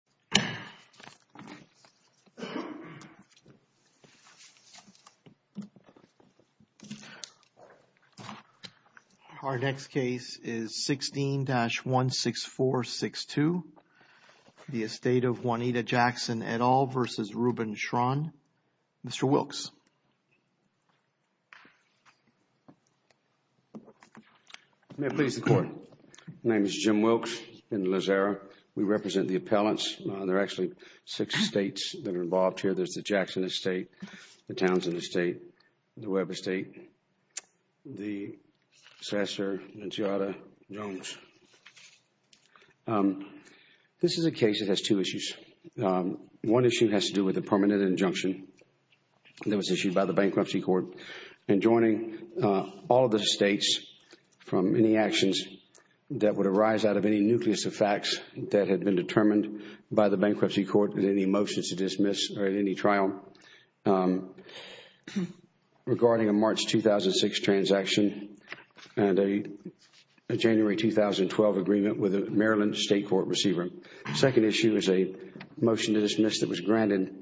Please. The court is adjourned. Our next case is 16-16462, the estate of Juanita Jackson et al. v. Rubin Schron. Mr. Wilks. May it please the court. My name is Jim Wilks. In the last era, we represent the appellants. There are actually six states that are involved here. There's the Jackson estate, the Townsend estate, the Webb estate, the Sasser-Nunziata-Jones. This is a case that has two issues. One issue has to do with a permanent injunction that was issued by the bankruptcy court. And joining all of the states from any actions that would arise out of any nucleus of facts that had been determined by the bankruptcy court with any motions to dismiss or any trial regarding a March 2006 transaction and a January 2012 agreement with a Maryland state court receiver. The second issue is a motion to dismiss that was granted.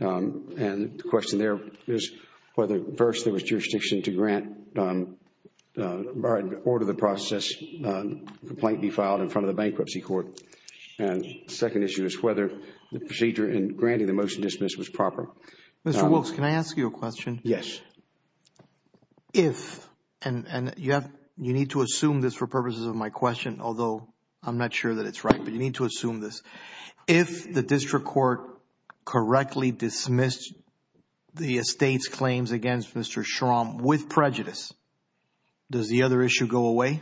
And the question there is whether first there was jurisdiction to order the process complaint be filed in front of the bankruptcy court. And the second issue is whether the procedure in granting the motion to dismiss was proper. Mr. Wilks, can I ask you a question? Yes. If, and you need to assume this for purposes of my question, although I'm not sure that it's right, but you need to assume this. If the district court correctly dismissed the estate's claims against Mr. Schramm with prejudice, does the other issue go away?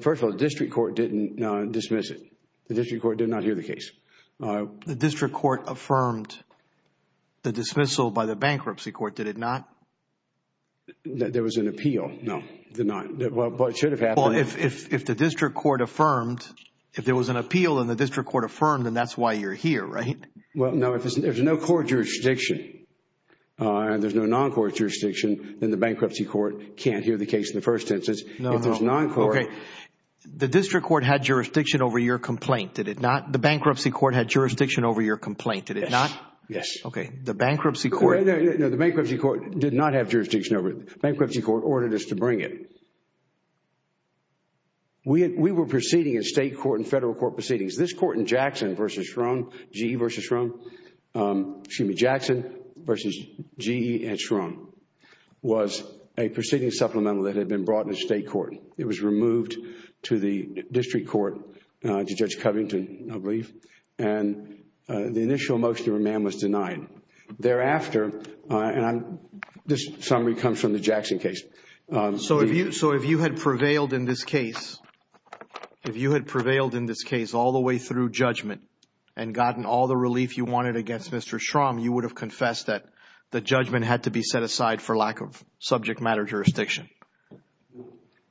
First of all, the district court didn't dismiss it. The district court did not hear the case. The district court affirmed the dismissal by the bankruptcy court, did it not? There was an appeal. No, it did not. Well, it should have happened. Well, if the district court affirmed, if there was an appeal and the district court affirmed, then that's why you're here, right? Well, no. If there's no court jurisdiction and there's no non-court jurisdiction, then the bankruptcy court can't hear the case in the first instance. No, no. If there's non-court. Okay. The district court had jurisdiction over your complaint, did it not? The bankruptcy court had jurisdiction over your complaint, did it not? Yes. Okay. The bankruptcy court... No, the bankruptcy court did not have jurisdiction over it. The bankruptcy court ordered us to bring it. We were proceeding in state court and federal court proceedings. This court in Jackson v. Schramm, GE v. Schramm, excuse me, Jackson v. GE at Schramm, was a proceeding supplemental that had been brought to state court. It was removed to the district court, to Judge Covington, I believe, and the initial motion to remand was denied. Thereafter, and this summary comes from the Jackson case... So, if you had prevailed in this case, if you had prevailed in this case all the way through judgment and gotten all the relief you wanted against Mr. Schramm, you would have confessed that the judgment had to be set aside for lack of subject matter jurisdiction?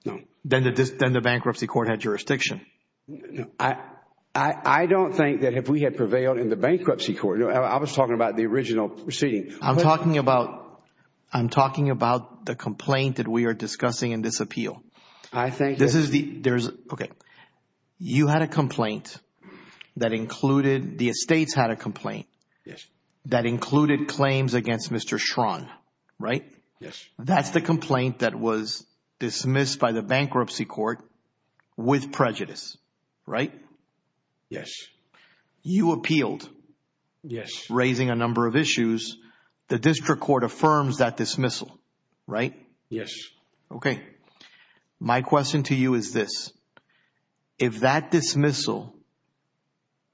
No. Then the bankruptcy court had jurisdiction? No. I don't think that if we had prevailed in the bankruptcy court... I was talking about the original proceeding. I'm talking about the complaint that we are discussing in this appeal. I think... This is the... Okay. You had a complaint that included... The estates had a complaint that included claims against Mr. Schramm, right? Yes. That's the complaint that was dismissed by the bankruptcy court with prejudice, right? Yes. You appealed... Yes. Raising a number of issues. The district court affirms that dismissal, right? Yes. Okay. My question to you is this. If that dismissal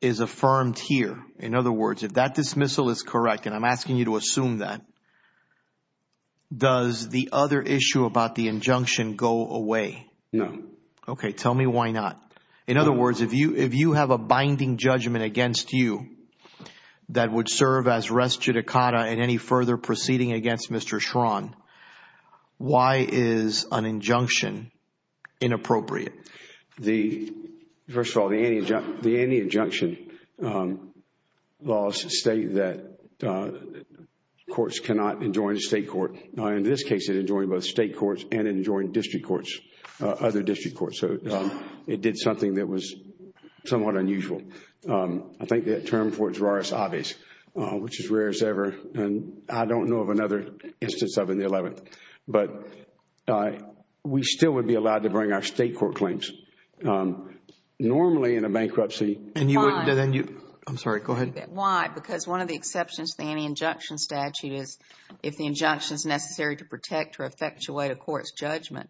is affirmed here, in other words, if that dismissal is correct, and I'm asking you to assume that, does the other issue about the injunction go away? No. Okay. Tell me why not. In other words, if you have a binding judgment against you that would serve as res judicata in any further proceeding against Mr. Schramm, why is an injunction inappropriate? First of all, the anti-injunction laws state that courts cannot enjoin a state court. In this case, it enjoined both state courts and it enjoined district courts, other district courts. It did something that was somewhat unusual. I think that term for it is raris obvis, which is rarest ever, and I don't know of another instance of it in the 11th. But we still would be allowed to bring our state court claims. Normally, in a bankruptcy, I'm sorry, go ahead. Why? Because one of the exceptions to the anti-injunction statute is if the injunction is necessary to protect or effectuate a court's judgment.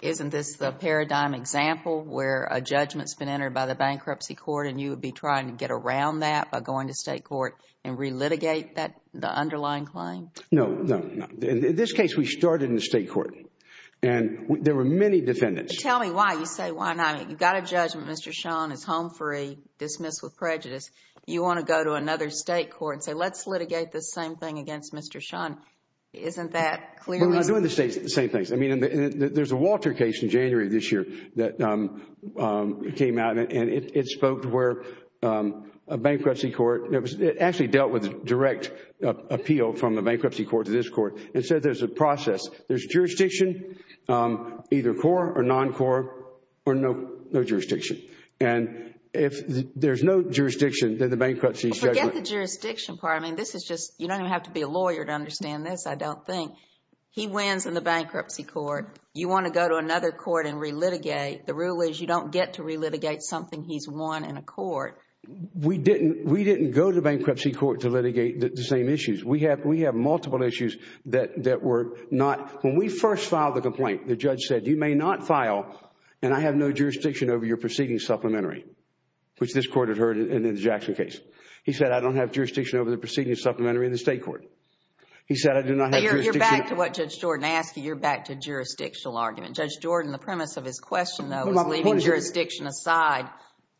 Isn't this the paradigm example where a judgment has been entered by the bankruptcy court and you would be trying to get around that by going to state court and relitigate the underlying claim? No. No. In this case, we started in the state court and there were many defendants. Tell me why you say why not. You've got a judgment, Mr. Schramm, it's home free, dismissed with prejudice. You want to go to another state court and say let's litigate this same thing against Mr. Schramm. Isn't that clearly? We're not doing the same things. I mean, there's a Walter case in January of this year that came out and it spoke to where a bankruptcy court, it actually dealt with direct appeal from the bankruptcy court to this court. It said there's a process. There's jurisdiction, either core or non-core, or no jurisdiction. And if there's no jurisdiction, then the bankruptcy's judgment. Forget the jurisdiction part. I mean, this is just, you don't even have to be a lawyer to understand this, I don't think. He wins in the bankruptcy court. You want to go to another court and relitigate. The rule is you don't get to relitigate something he's won in a court. We didn't go to the bankruptcy court to litigate the same issues. We have multiple issues that were not, when we first filed the complaint, the judge said you may not file and I have no jurisdiction over your proceeding supplementary, which this court had heard in the Jackson case. He said I don't have jurisdiction over the proceeding supplementary in the state court. He said I do not have jurisdiction. You're back to what Judge Jordan asked you. You're back to jurisdictional argument. Judge Jordan, the premise of his question, though, was leaving jurisdiction aside.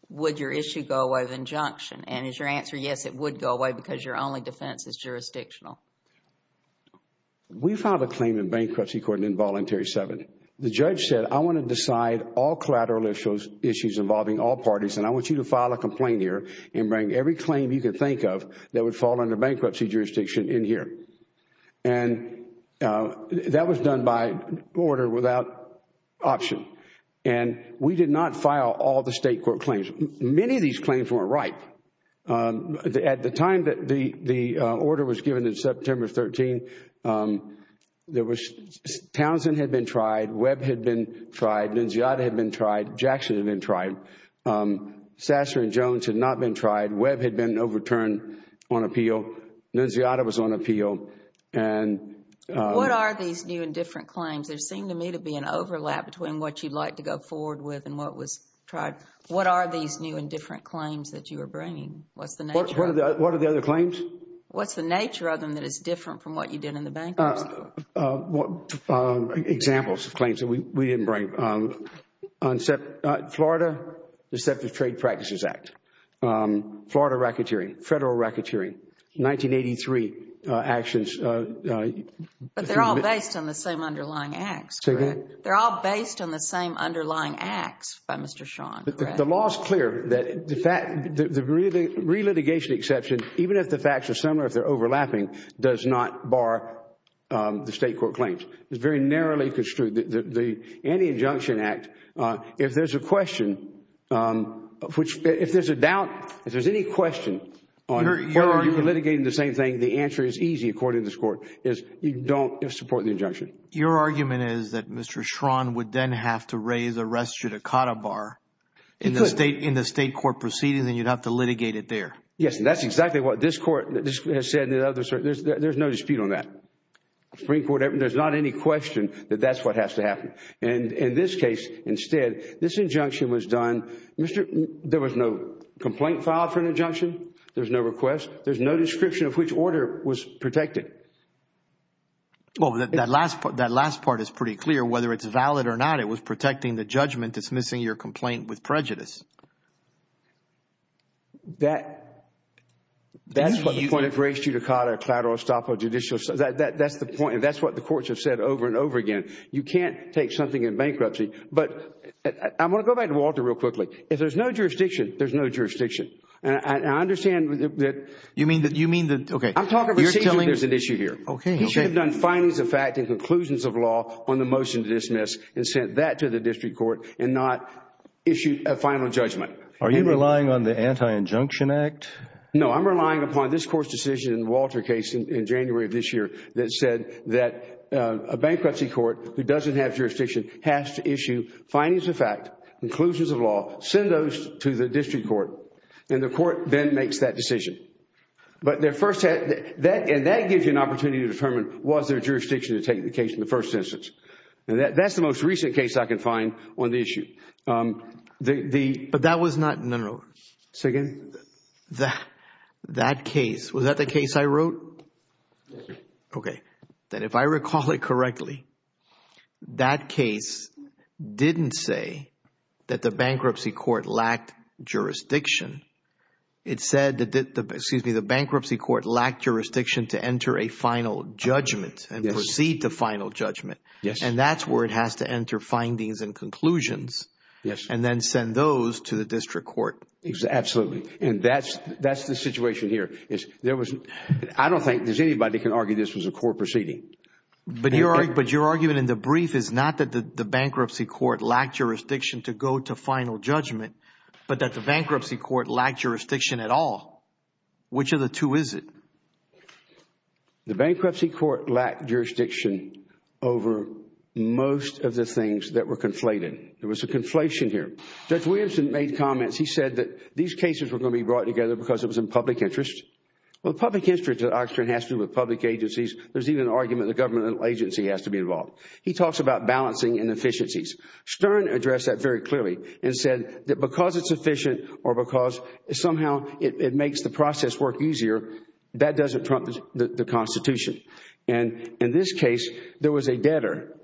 Would your issue go away with injunction? And is your answer yes, it would go away because your only defense is jurisdictional? We filed a claim in bankruptcy court in Voluntary 7. The judge said I want to decide all collateral issues involving all parties and I want you to file a complaint here and bring every claim you can think of that would fall under bankruptcy jurisdiction in here. And that was done by order without option. And we did not file all the state court claims. Many of these claims weren't right. At the time that the order was given in September 13, Townsend had been tried. Webb had been tried. Nunziata had been tried. Jackson had been tried. Sasser and Jones had not been tried. Webb had been overturned on appeal. Nunziata was on appeal. What are these new and different claims? There seemed to me to be an overlap between what you'd like to go forward with and what was tried. What are these new and different claims that you were bringing? What are the other claims? What's the nature of them that is different from what you did in the bankruptcy court? Examples of claims that we didn't bring. Florida Deceptive Trade Practices Act. Florida racketeering. Federal racketeering. 1983 actions. But they're all based on the same underlying acts, correct? Say again? They're all based on the same underlying acts by Mr. Sean, correct? The law is clear that the relitigation exception, even if the facts are similar or if they're overlapping, does not bar the state court claims. It's very narrowly construed. The Anti-Injunction Act, if there's a question, if there's a doubt, if there's any question on whether you're litigating the same thing, the answer is easy according to this court, is you don't support the injunction. Your argument is that Mr. Sean would then have to raise arrest judicata bar in the state court proceedings and you'd have to litigate it there. Yes, and that's exactly what this court has said. There's no dispute on that. There's not any question that that's what has to happen. In this case, instead, this injunction was done. There was no complaint filed for an injunction. There's no request. There's no description of which order was protected. Well, that last part is pretty clear. Whether it's valid or not, it was protecting the judgment, dismissing your complaint with prejudice. That's what the point of raised judicata, collateral estoppel, judicial – that's the point and that's what the courts have said over and over again. You can't take something in bankruptcy. But I'm going to go back to Walter real quickly. If there's no jurisdiction, there's no jurisdiction. I understand that – You mean that – okay. I'm talking about – You're telling – There's an issue here. Okay. He should have done findings of fact and conclusions of law on the motion to dismiss and sent that to the district court and not issued a final judgment. Are you relying on the Anti-Injunction Act? No, I'm relying upon this court's decision in Walter's case in January of this year that said that a bankruptcy court who doesn't have jurisdiction has to issue findings of fact, conclusions of law, send those to the district court, and the court then makes that decision. But their first – and that gives you an opportunity to determine was there jurisdiction to take the case in the first instance. That's the most recent case I can find on the issue. But that was not – no, no. Say again. That case – was that the case I wrote? Yes. Okay. Then if I recall it correctly, that case didn't say that the bankruptcy court lacked jurisdiction. It said that – excuse me, the bankruptcy court lacked jurisdiction to enter a final judgment and proceed to final judgment. Yes. And that's where it has to enter findings and conclusions. Yes. And then send those to the district court. Absolutely. And that's the situation here. I don't think anybody can argue this was a court proceeding. But your argument in the brief is not that the bankruptcy court lacked jurisdiction to go to final judgment, but that the bankruptcy court lacked jurisdiction at all. Which of the two is it? The bankruptcy court lacked jurisdiction over most of the things that were conflated. There was a conflation here. Judge Williamson made comments. He said that these cases were going to be brought together because it was in public interest. Well, public interest at Oxford has to do with public agencies. There's even an argument the government agency has to be involved. He talks about balancing inefficiencies. Stern addressed that very clearly and said that because it's efficient or because somehow it makes the process work easier, that doesn't trump the Constitution. In this case, there was a debtor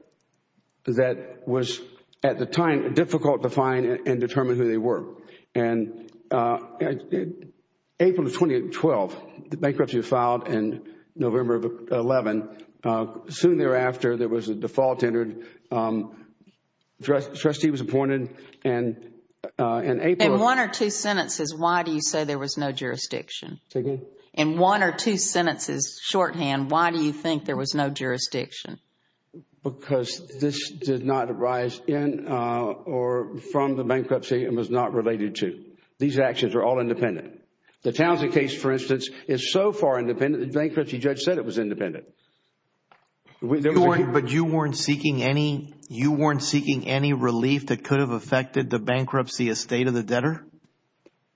that was, at the time, difficult to find and determine who they were. And April of 2012, the bankruptcy was filed in November of 2011. Soon thereafter, there was a default entered. The trustee was appointed. In one or two sentences, why do you say there was no jurisdiction? Say again? In one or two sentences, shorthand, why do you think there was no jurisdiction? Because this did not arise in or from the bankruptcy and was not related to. These actions are all independent. The Townsend case, for instance, is so far independent, the bankruptcy judge said it was independent. But you weren't seeking any relief that could have affected the bankruptcy estate of the debtor?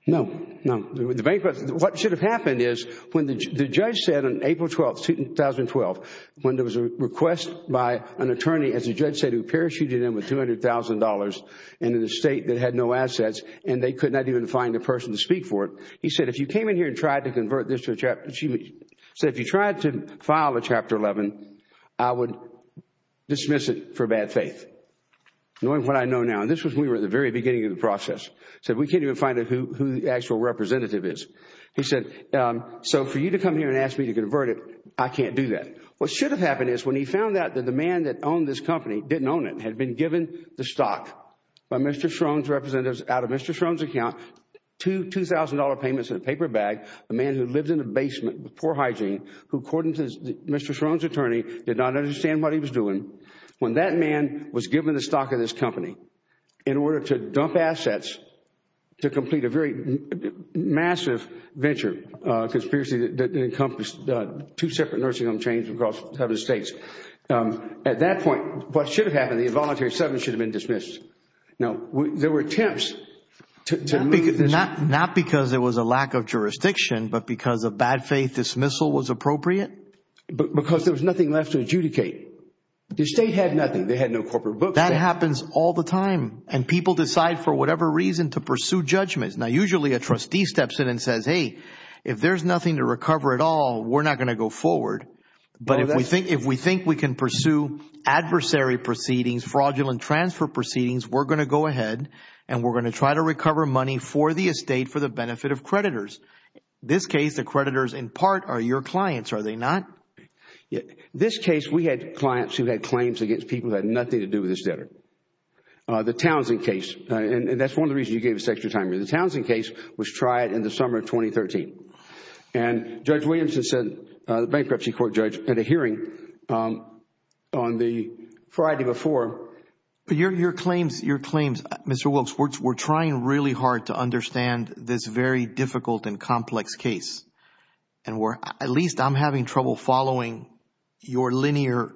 No, no. What should have happened is when the judge said on April 12, 2012, when there was a request by an attorney, as the judge said, who parachuted in with $200,000 into the estate that had no assets and they could not even find a person to speak for it, he said, if you came in here and tried to convert this to a Chapter 11, I would dismiss it for bad faith. Knowing what I know now. And this was when we were at the very beginning of the process. So we can't even find out who the actual representative is. He said, so for you to come here and ask me to convert it, I can't do that. What should have happened is when he found out that the man that owned this company didn't own it, had been given the stock by Mr. Schroen's representatives out of Mr. Schroen's account, two $2,000 payments in a paper bag, a man who lived in a basement with poor hygiene, who according to Mr. Schroen's attorney did not understand what he was doing. When that man was given the stock of this company in order to dump assets, to complete a very massive venture, because previously it encompassed two separate nursing home chains across the United States. At that point, what should have happened, the involuntary settlement should have been dismissed. Now, there were attempts to move this. Not because there was a lack of jurisdiction, but because a bad faith dismissal was appropriate? Because there was nothing left to adjudicate. The state had nothing. They had no corporate books. That happens all the time and people decide for whatever reason to pursue judgments. Now, usually a trustee steps in and says, hey, if there's nothing to recover at all, we're not going to go forward. But if we think we can pursue adversary proceedings, fraudulent transfer proceedings, we're going to go ahead and we're going to try to recover money for the estate for the benefit of creditors. This case, the creditors in part are your clients, are they not? This case, we had clients who had claims against people who had nothing to do with this debtor. The Townsend case, and that's one of the reasons you gave us extra time. The Townsend case was tried in the summer of 2013. And Judge Williamson, the bankruptcy court judge, had a hearing on the Friday before. But your claims, Mr. Wilkes, we're trying really hard to understand this very difficult and complex case. And at least I'm having trouble following your linear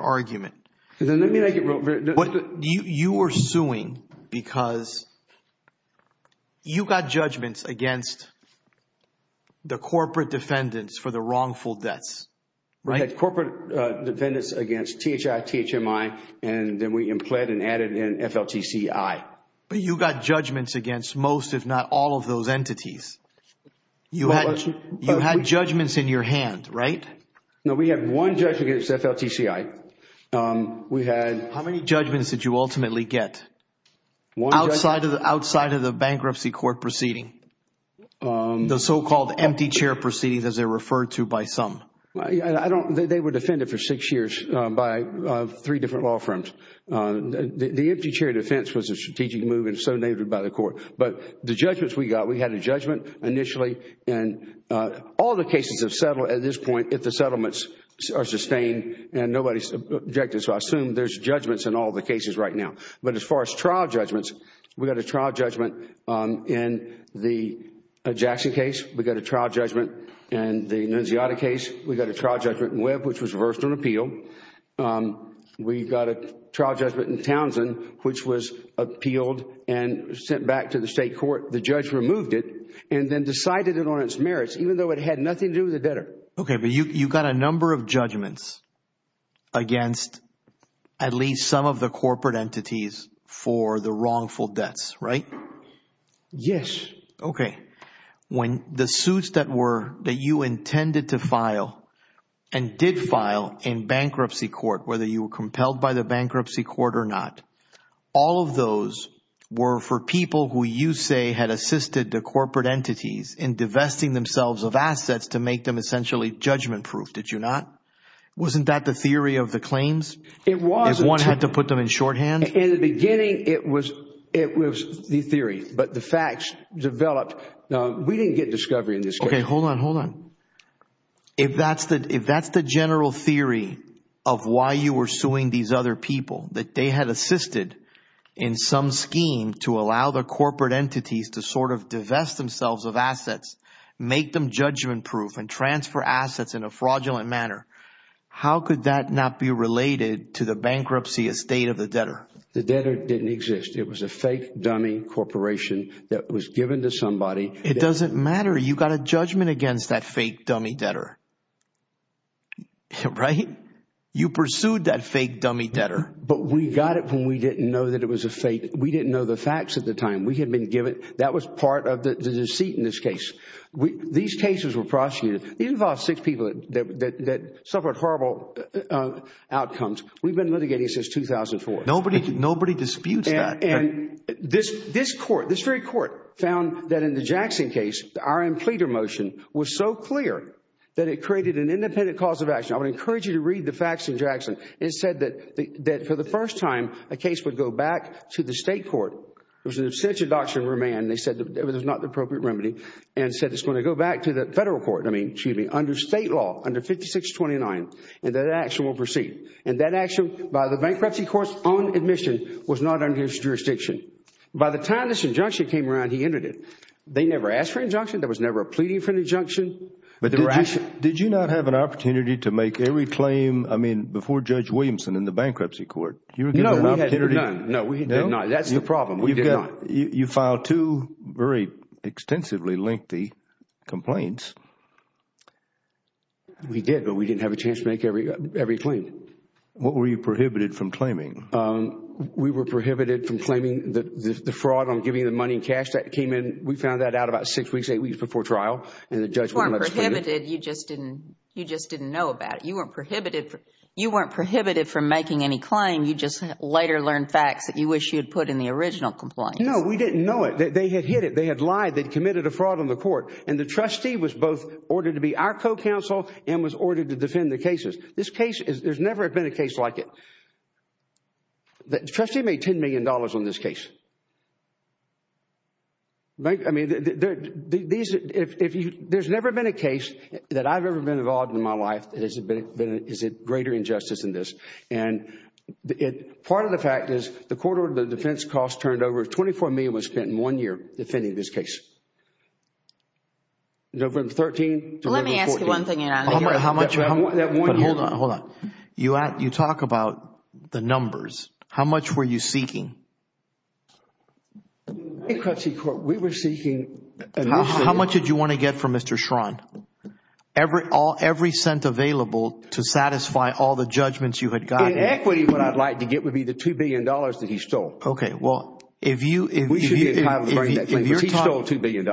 argument. You were suing because you got judgments against the corporate defendants for the wrongful debts, right? And then we implanted and added in FLTCI. But you got judgments against most, if not all, of those entities. You had judgments in your hand, right? No, we had one judge against FLTCI. How many judgments did you ultimately get outside of the bankruptcy court proceeding? The so-called empty chair proceedings as they're referred to by some. They were defended for six years by three different law firms. The empty chair defense was a strategic move and so named it by the court. But the judgments we got, we had a judgment initially. And all the cases have settled at this point if the settlements are sustained and nobody's objected. So I assume there's judgments in all the cases right now. But as far as trial judgments, we got a trial judgment in the Jackson case. We got a trial judgment in the Nunziata case. We got a trial judgment in Webb which was reversed on appeal. We got a trial judgment in Townsend which was appealed and sent back to the state court. The judge removed it and then decided it on its merits even though it had nothing to do with the debtor. Okay, but you got a number of judgments against at least some of the corporate entities for the wrongful debts, right? Yes. Okay. When the suits that were that you intended to file and did file in bankruptcy court, whether you were compelled by the bankruptcy court or not, all of those were for people who you say had assisted the corporate entities in divesting themselves of assets to make them essentially judgment-proof. Did you not? Wasn't that the theory of the claims? It was. If one had to put them in shorthand? In the beginning, it was the theory, but the facts developed. We didn't get discovery in this case. Okay, hold on, hold on. If that's the general theory of why you were suing these other people, that they had assisted in some scheme to allow the corporate entities to sort of divest themselves of assets, make them judgment-proof and transfer assets in a fraudulent manner, how could that not be related to the bankruptcy estate of the debtor? The debtor didn't exist. It was a fake dummy corporation that was given to somebody. It doesn't matter. You got a judgment against that fake dummy debtor, right? You pursued that fake dummy debtor. But we got it when we didn't know that it was a fake. We didn't know the facts at the time. We had been given. That was part of the deceit in this case. These cases were prosecuted. These involved six people that suffered horrible outcomes. We've been litigating since 2004. Nobody disputes that. And this court, this very court, found that in the Jackson case, the R.M. Cleter motion was so clear that it created an independent cause of action. I would encourage you to read the facts in Jackson. It said that for the first time, a case would go back to the state court. It was an absentia doctrine remand. They said it was not the appropriate remedy and said it's going to go back to the federal court. I mean, excuse me, under state law, under 5629, and that action will proceed. And that action, by the bankruptcy court's own admission, was not under his jurisdiction. By the time this injunction came around, he entered it. They never asked for an injunction. There was never a pleading for an injunction. But did you not have an opportunity to make every claim, I mean, before Judge Williamson in the bankruptcy court? No, we had none. No, we did not. That's the problem. We did not. You filed two very extensively lengthy complaints. We did, but we didn't have a chance to make every claim. What were you prohibited from claiming? We were prohibited from claiming the fraud on giving the money and cash that came in. We found that out about six weeks, eight weeks before trial, and the judge wouldn't let us claim it. You weren't prohibited. You just didn't know about it. You weren't prohibited from making any claim. You just later learned facts that you wish you had put in the original complaint. No, we didn't know it. They had hid it. They had lied. They had committed a fraud on the court. And the trustee was both ordered to be our co-counsel and was ordered to defend the cases. This case, there's never been a case like it. The trustee made $10 million on this case. I mean, there's never been a case that I've ever been involved in in my life that is a greater injustice than this. And part of the fact is the court ordered the defense cost turned over. $24 million was spent in one year defending this case. From 2013 to 2014. Let me ask you one thing, Your Honor. Hold on, hold on. You talk about the numbers. How much were you seeking? The bankruptcy court, we were seeking How much did you want to get from Mr. Schrond? Every cent available to satisfy all the judgments you had gotten. In equity, what I'd like to get would be the $2 billion that he stole. Okay, well, if you We should be entitled to bring that claim, but he stole $2 billion.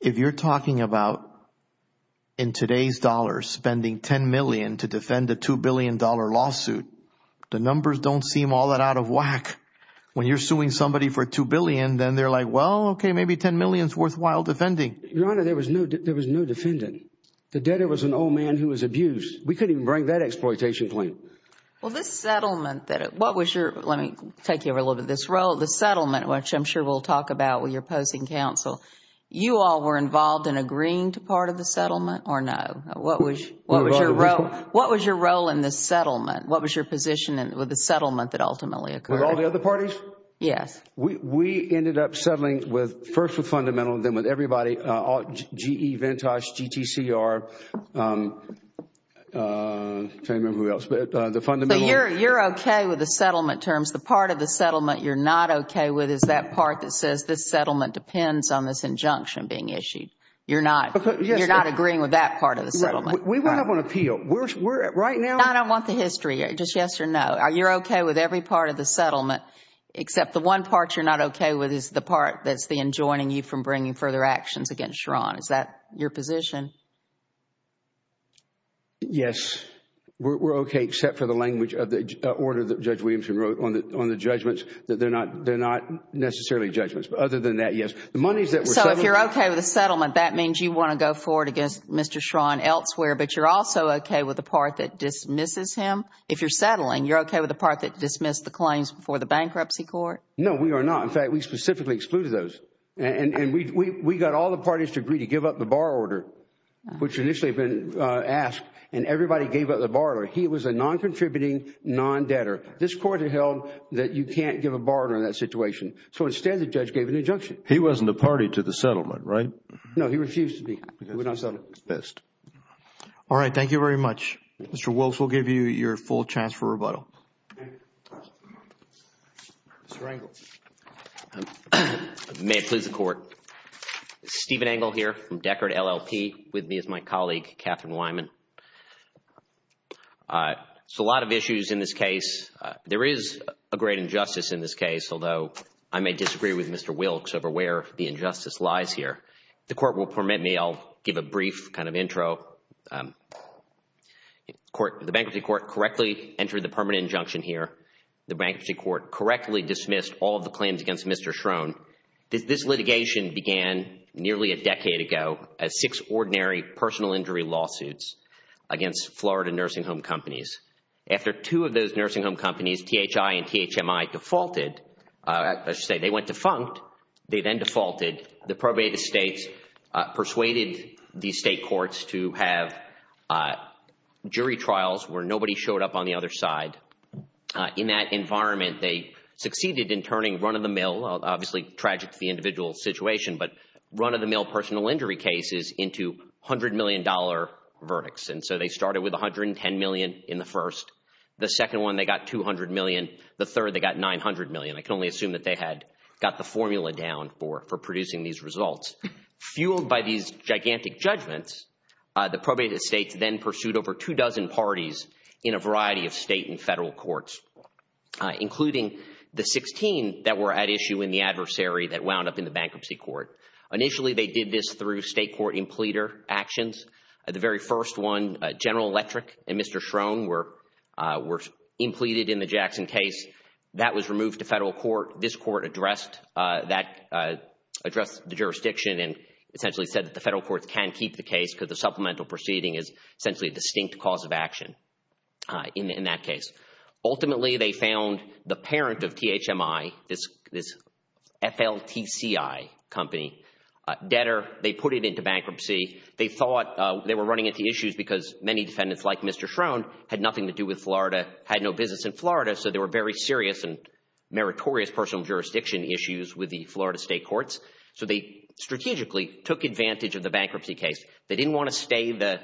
If you're talking about, in today's dollars, spending $10 million to defend a $2 billion lawsuit, the numbers don't seem all that out of whack. When you're suing somebody for $2 billion, then they're like, Well, okay, maybe $10 million is worthwhile defending. Your Honor, there was no defendant. The debtor was an old man who was abused. We couldn't even bring that exploitation claim. Well, this settlement that What was your Let me take you over a little bit to this role. The settlement, which I'm sure we'll talk about when you're posing counsel. You all were involved in agreeing to part of the settlement, or no? What was your role in this settlement? What was your position with the settlement that ultimately occurred? With all the other parties? Yes. We ended up settling first with Fundamental, then with everybody. GE, Ventosh, GTCR. I can't remember who else, but the Fundamental You're okay with the settlement terms. The part of the settlement you're not okay with is that part that says this settlement depends on this injunction being issued. You're not agreeing with that part of the settlement. We went up on appeal. Right now I don't want the history. Just yes or no. You're okay with every part of the settlement, except the one part you're not okay with is the part that's then joining you from bringing further actions against Schron. Is that your position? Yes. We're okay, except for the language of the order that Judge Williamson wrote on the judgments, that they're not necessarily judgments. But other than that, yes. The monies that were So, if you're okay with the settlement, that means you want to go forward against Mr. Schron elsewhere, but you're also okay with the part that dismisses him? If you're settling, you're okay with the part that dismissed the claims before the bankruptcy court? No, we are not. In fact, we specifically excluded those. And we got all the parties to agree to give up the borrower order, which initially had been asked, and everybody gave up the borrower. He was a non-contributing, non-debtor. This Court had held that you can't give a borrower in that situation. So, instead, the judge gave an injunction. He wasn't a party to the settlement, right? No, he refused to be. He would not settle. All right. Thank you very much. Mr. Wilkes will give you your full chance for rebuttal. Mr. Engle. May it please the Court. Steven Engle here from Deckard, LLP, with me is my colleague, Catherine Wyman. So, a lot of issues in this case. There is a great injustice in this case, although I may disagree with Mr. Wilkes over where the injustice lies here. If the Court will permit me, I'll give a brief kind of intro. The Bankruptcy Court correctly entered the permanent injunction here. The Bankruptcy Court correctly dismissed all of the claims against Mr. Schroen. This litigation began nearly a decade ago as six ordinary personal injury lawsuits against Florida nursing home companies. After two of those nursing home companies, THI and THMI, defaulted, let's just say they went defunct. They then defaulted. The probated states persuaded the state courts to have jury trials where nobody showed up on the other side. In that environment, they succeeded in turning run-of-the-mill, obviously tragic to the individual situation, but run-of-the-mill personal injury cases into $100 million verdicts. And so they started with $110 million in the first. The second one, they got $200 million. The third, they got $900 million. I can only assume that they had got the formula down for producing these results. Fueled by these gigantic judgments, the probated states then pursued over two dozen parties in a variety of state and federal courts, including the 16 that were at issue in the adversary that wound up in the Bankruptcy Court. Initially, they did this through state court impleter actions. The very first one, General Electric and Mr. Schroen were impleted in the Jackson case. That was removed to federal court. This court addressed the jurisdiction and essentially said that the federal courts can keep the case because the supplemental proceeding is essentially a distinct cause of action in that case. Ultimately, they found the parent of THMI, this FLTCI company, debtor. They put it into bankruptcy. They thought they were running into issues because many defendants, like Mr. Schroen, had nothing to do with Florida, had no business in Florida, so there were very serious and meritorious personal jurisdiction issues with the Florida state courts. They strategically took advantage of the bankruptcy case. They didn't want to stay the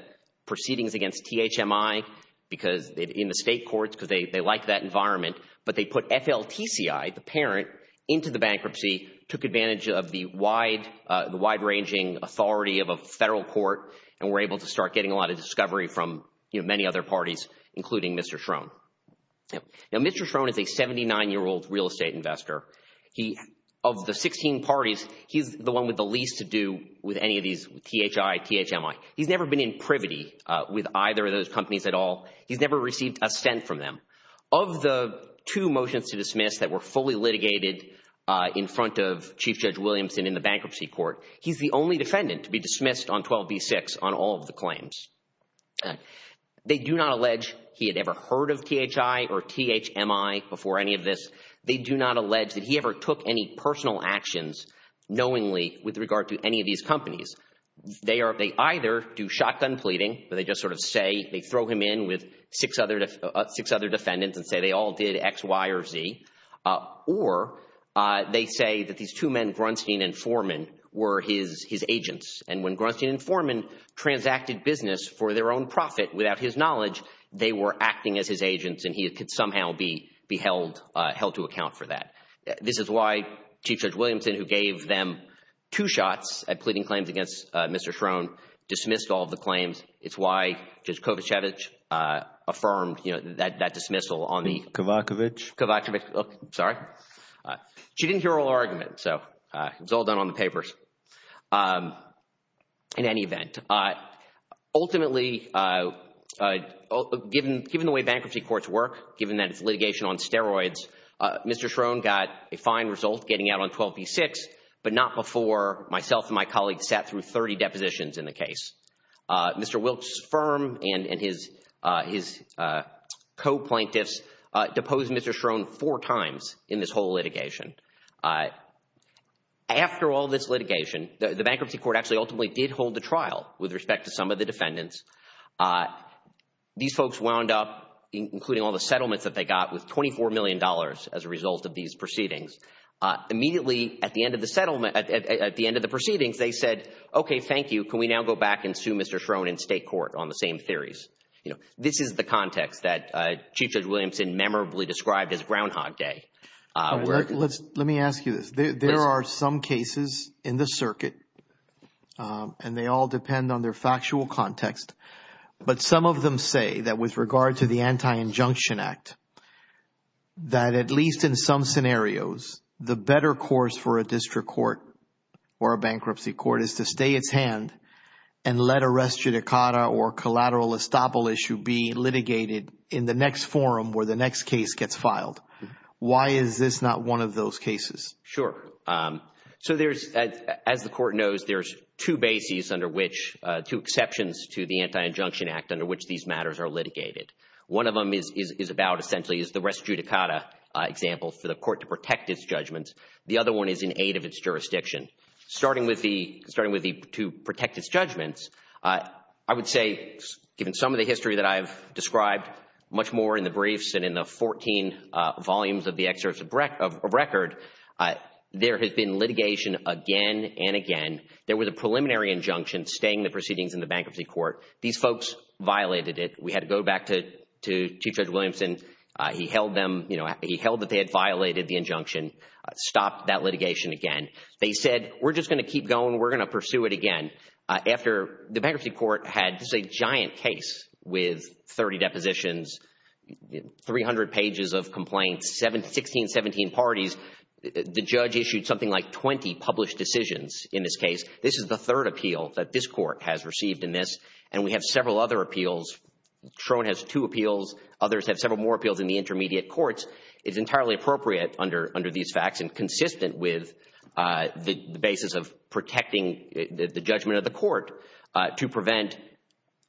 proceedings against THMI in the state courts because they liked that environment, but they put FLTCI, the parent, into the bankruptcy, took advantage of the wide-ranging authority from many other parties, including Mr. Schroen. Now, Mr. Schroen is a 79-year-old real estate investor. Of the 16 parties, he's the one with the least to do with any of these THI, THMI. He's never been in privity with either of those companies at all. He's never received a cent from them. Of the two motions to dismiss that were fully litigated in front of Chief Judge Williamson in the bankruptcy court, he's the only defendant to be dismissed on 12b-6 on all of the claims. They do not allege he had ever heard of THI or THMI before any of this. They do not allege that he ever took any personal actions knowingly with regard to any of these companies. They either do shotgun pleading, where they just sort of say they throw him in with six other defendants and say they all did X, Y, or Z, or they say that these two men, Grunstein and Foreman, were his agents, and when Grunstein and Foreman transacted business for their own profit without his knowledge, they were acting as his agents, and he could somehow be held to account for that. This is why Chief Judge Williamson, who gave them two shots at pleading claims against Mr. Schroen, dismissed all of the claims. It's why Judge Kovacevic affirmed that dismissal on the Kovacevic? Kovacevic. Sorry. She didn't hear our argument, so it's all done on the papers. In any event, ultimately, given the way bankruptcy courts work, given that it's litigation on steroids, Mr. Schroen got a fine result getting out on 12b-6, but not before myself and my colleagues sat through 30 depositions in the case. Mr. Wilkes' firm and his co-plaintiffs deposed Mr. Schroen four times in this whole litigation. After all this litigation, the bankruptcy court actually ultimately did hold the trial with respect to some of the defendants. These folks wound up, including all the settlements that they got, with $24 million as a result of these proceedings. Immediately at the end of the proceedings, they said, okay, thank you. Can we now go back and sue Mr. Schroen in state court on the same theories? This is the context that Chief Judge Williamson memorably described as Groundhog Day. Let me ask you this. There are some cases in the circuit, and they all depend on their factual context, but some of them say that with regard to the Anti-Injunction Act, that at least in some scenarios, the better course for a district court or a bankruptcy court is to stay its hand and let a res judicata or collateral estoppel issue be litigated in the next forum where the next case gets filed. Why is this not one of those cases? Sure. So there's, as the Court knows, there's two bases under which, two exceptions to the Anti-Injunction Act under which these matters are litigated. One of them is about, essentially, is the res judicata example for the court to protect its judgments. The other one is in aid of its jurisdiction. Starting with the to protect its judgments, I would say, given some of the history that I've described much more in the briefs and in the 14 volumes of the excerpts of record, there has been litigation again and again. There was a preliminary injunction staying the proceedings in the bankruptcy court. These folks violated it. We had to go back to Chief Judge Williamson. He held them, you know, he held that they had violated the injunction, stopped that litigation again. They said, we're just going to keep going. We're going to pursue it again. After the bankruptcy court had just a giant case with 30 depositions, 300 pages of complaints, 16, 17 parties, the judge issued something like 20 published decisions in this case. This is the third appeal that this court has received in this, and we have several other appeals. Trone has two appeals. Others have several more appeals in the intermediate courts. It's entirely appropriate under these facts and consistent with the basis of protecting the judgment of the court to prevent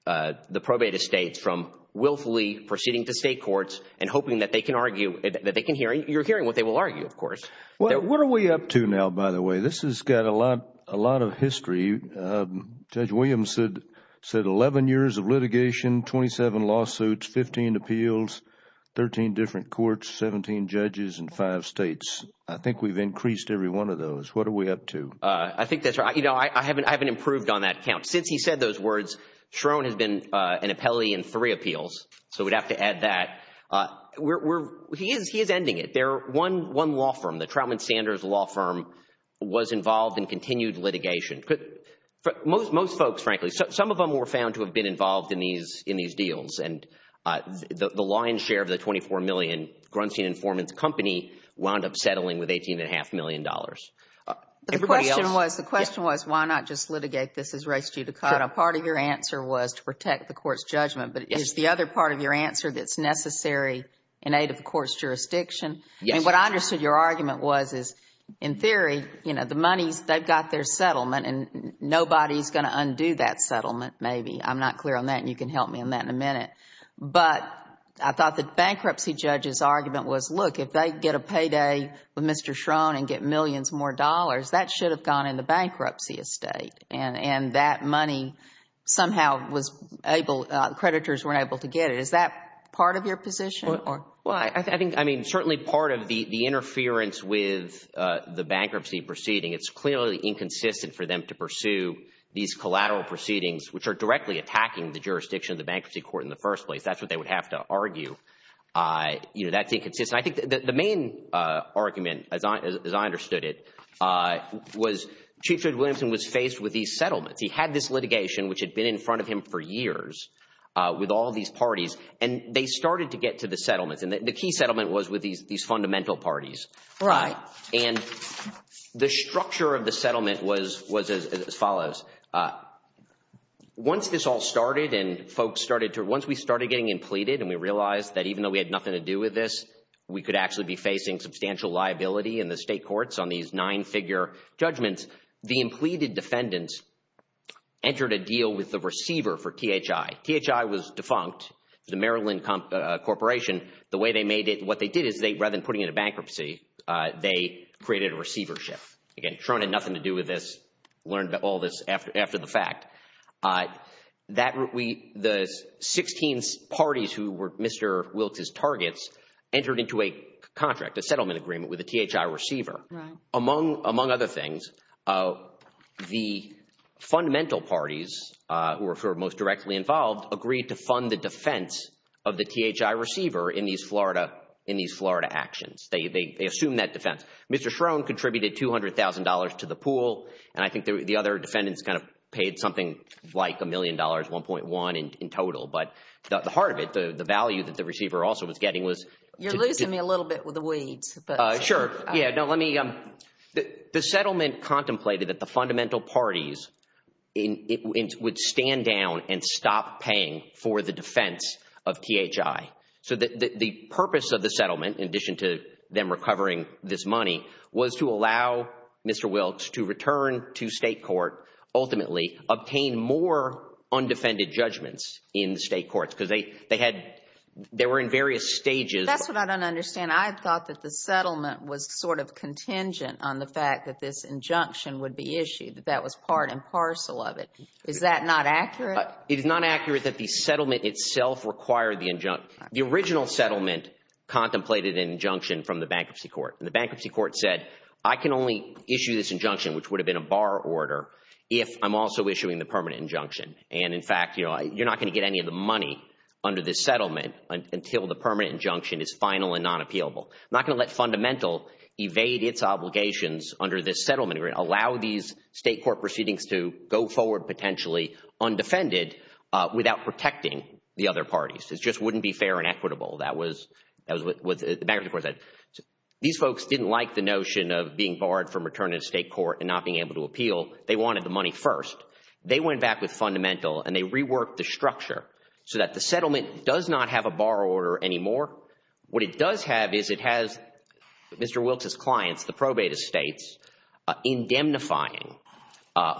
the probate estates from willfully proceeding to state courts and hoping that they can argue, that they can hear. You're hearing what they will argue, of course. What are we up to now, by the way? This has got a lot of history. Judge Williams said 11 years of litigation, 27 lawsuits, 15 appeals, 13 different courts, 17 judges in five states. I think we've increased every one of those. What are we up to? I think that's right. You know, I haven't improved on that count. Since he said those words, Trone has been an appellee in three appeals, so we'd have to add that. He is ending it. One law firm, the Troutman Sanders law firm, was involved in continued litigation. Most folks, frankly. Some of them were found to have been involved in these deals, and the lion's share of the $24 million Grunstein Informants Company wound up settling with $18.5 million. The question was, why not just litigate this as race due to color? Part of your answer was to protect the court's judgment, but is the other part of your answer that's necessary in aid of the court's jurisdiction? What I understood your argument was is, in theory, you know, the money, they've got their settlement, and nobody's going to undo that settlement, maybe. I'm not clear on that, and you can help me on that in a minute. But I thought the bankruptcy judge's argument was, look, if they get a payday with Mr. Trone and get millions more dollars, that should have gone in the bankruptcy estate, and that money somehow was able, creditors weren't able to get it. Is that part of your position? Well, I think, I mean, certainly part of the interference with the bankruptcy proceeding, it's clearly inconsistent for them to pursue these collateral proceedings, which are directly attacking the jurisdiction of the bankruptcy court in the first place. That's what they would have to argue. You know, that's inconsistent. I think the main argument, as I understood it, was Chief Judge Williamson was faced with these settlements. He had this litigation, which had been in front of him for years, with all these parties, and they started to get to the settlements. And the key settlement was with these fundamental parties. Right. And the structure of the settlement was as follows. Once this all started and folks started to, once we started getting impleted and we realized that even though we had nothing to do with this, we could actually be facing substantial liability in the state courts on these nine-figure judgments, the impleted defendants entered a deal with the receiver for THI. THI was defunct. The Maryland Corporation, the way they made it, what they did is rather than putting it in bankruptcy, they created a receivership. Again, Tron had nothing to do with this. Learned all this after the fact. The 16 parties who were Mr. Wilkes' targets entered into a contract, a settlement agreement with the THI receiver. Right. Among other things, the fundamental parties who were most directly involved agreed to fund the defense of the THI receiver in these Florida actions. They assumed that defense. Mr. Schrone contributed $200,000 to the pool, and I think the other defendants kind of paid something like a million dollars, 1.1 in total. But the heart of it, the value that the receiver also was getting was to You're losing me a little bit with the weeds. Sure. The settlement contemplated that the fundamental parties would stand down and stop paying for the defense of THI. So the purpose of the settlement, in addition to them recovering this money, was to allow Mr. Wilkes to return to state court, ultimately obtain more undefended judgments in state courts, because they were in various stages. That's what I don't understand. I thought that the settlement was sort of contingent on the fact that this injunction would be issued, that that was part and parcel of it. Is that not accurate? It is not accurate that the settlement itself required the injunction. The original settlement contemplated an injunction from the bankruptcy court, and the bankruptcy court said, I can only issue this injunction, which would have been a bar order, if I'm also issuing the permanent injunction. And, in fact, you're not going to get any of the money under this settlement until the settlement is available. I'm not going to let Fundamental evade its obligations under this settlement agreement, allow these state court proceedings to go forward potentially undefended without protecting the other parties. It just wouldn't be fair and equitable. That was what the bankruptcy court said. These folks didn't like the notion of being barred from returning to state court and not being able to appeal. They wanted the money first. They went back with Fundamental, and they reworked the structure so that the settlement does not have a bar order anymore. What it does have is it has Mr. Wilkes' clients, the probate estates, indemnifying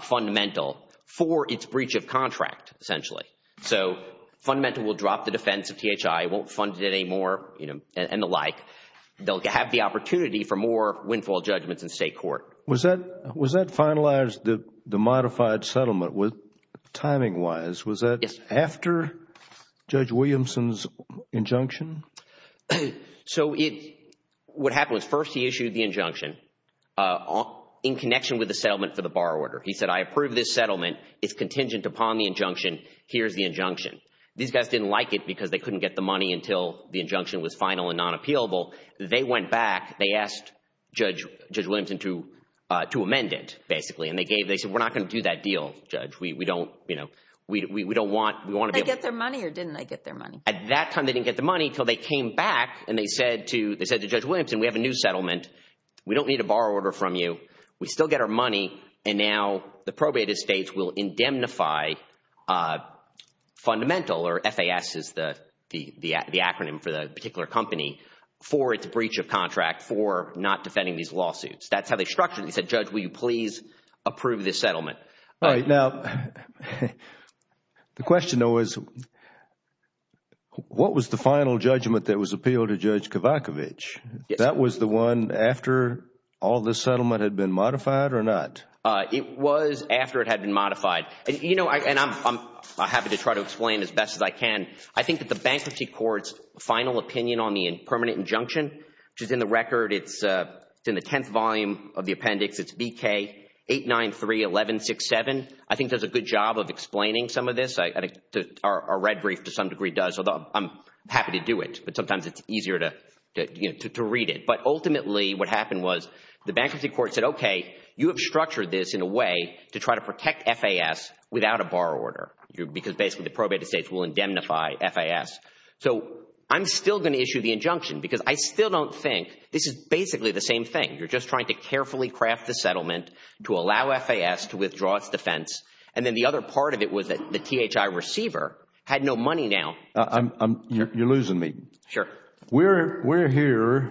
Fundamental for its breach of contract, essentially. So Fundamental will drop the defense of THI, won't fund it anymore, and the like. They'll have the opportunity for more windfall judgments in state court. Was that finalized, the modified settlement, timing-wise? Yes. After Judge Williamson's injunction? So what happened was first he issued the injunction in connection with the settlement for the bar order. He said, I approve this settlement. It's contingent upon the injunction. Here's the injunction. These guys didn't like it because they couldn't get the money until the injunction was final and non-appealable. They went back. They asked Judge Williamson to amend it, basically. And they said, we're not going to do that deal, Judge. We don't want to be able to. Did they get their money or didn't they get their money? At that time they didn't get their money until they came back and they said to Judge Williamson, we have a new settlement. We don't need a bar order from you. We still get our money, and now the probate estates will indemnify Fundamental, or FAS is the acronym for the particular company, for its breach of contract, for not defending these lawsuits. That's how they structured it. They said, Judge, will you please approve this settlement? Now, the question, though, is what was the final judgment that was appealed to Judge Kavakovich? That was the one after all this settlement had been modified or not? It was after it had been modified. And, you know, I'm happy to try to explain as best as I can. I think that the bankruptcy court's final opinion on the permanent injunction, which is in the record, it's in the 10th volume of the appendix, it's BK 893-1167. I think does a good job of explaining some of this. Our red brief to some degree does, although I'm happy to do it, but sometimes it's easier to read it. But ultimately what happened was the bankruptcy court said, okay, you have structured this in a way to try to protect FAS without a bar order because basically the probate estates will indemnify FAS. So I'm still going to issue the injunction because I still don't think this is basically the same thing. You're just trying to carefully craft the settlement to allow FAS to withdraw its defense. And then the other part of it was that the THI receiver had no money now. You're losing me. Sure. We're here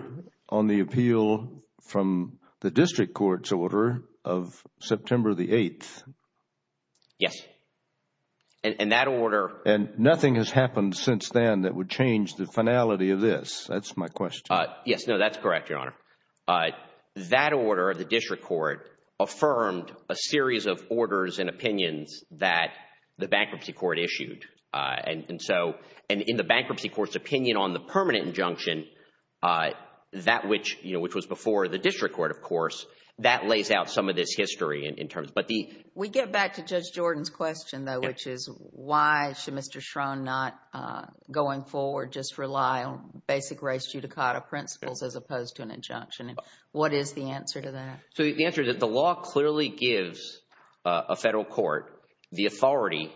on the appeal from the district court's order of September the 8th. Yes. And that order. And nothing has happened since then that would change the finality of this. That's my question. Yes, no, that's correct, Your Honor. That order of the district court affirmed a series of orders and opinions that the bankruptcy court issued. And so in the bankruptcy court's opinion on the permanent injunction, that which was before the district court, of course, that lays out some of this history in terms. We get back to Judge Jordan's question, though, which is why should Mr. Schrone not, going forward, just rely on basic res judicata principles as opposed to an injunction? What is the answer to that? The answer is that the law clearly gives a federal court the authority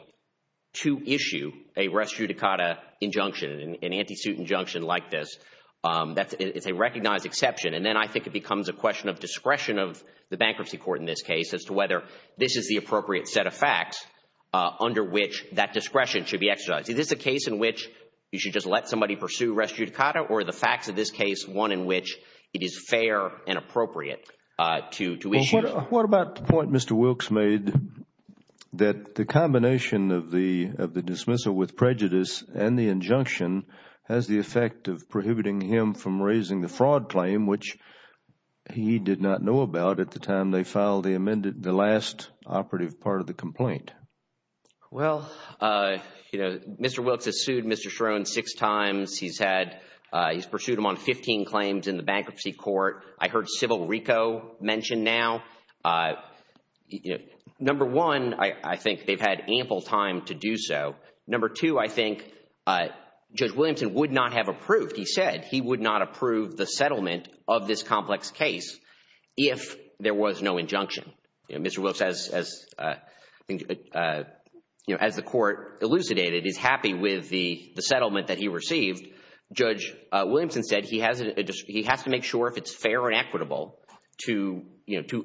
to issue a res judicata injunction, an anti-suit injunction like this. It's a recognized exception. And then I think it becomes a question of discretion of the bankruptcy court in this case as to whether this is the appropriate set of facts under which that discretion should be exercised. Is this a case in which you should just let somebody pursue res judicata or the facts of this case one in which it is fair and appropriate to issue? What about the point Mr. Wilkes made that the combination of the dismissal with prejudice and the injunction has the effect of prohibiting him from raising the fraud claim, which he did not know about at the time they filed the last operative part of the complaint? Well, Mr. Wilkes has sued Mr. Shrone six times. He's pursued him on 15 claims in the bankruptcy court. I heard civil RICO mentioned now. Number one, I think they've had ample time to do so. Number two, I think Judge Williamson would not have approved. He said he would not approve the settlement of this complex case if there was no injunction. Mr. Wilkes, as the court elucidated, is happy with the settlement that he received. Judge Williamson said he has to make sure if it's fair and equitable to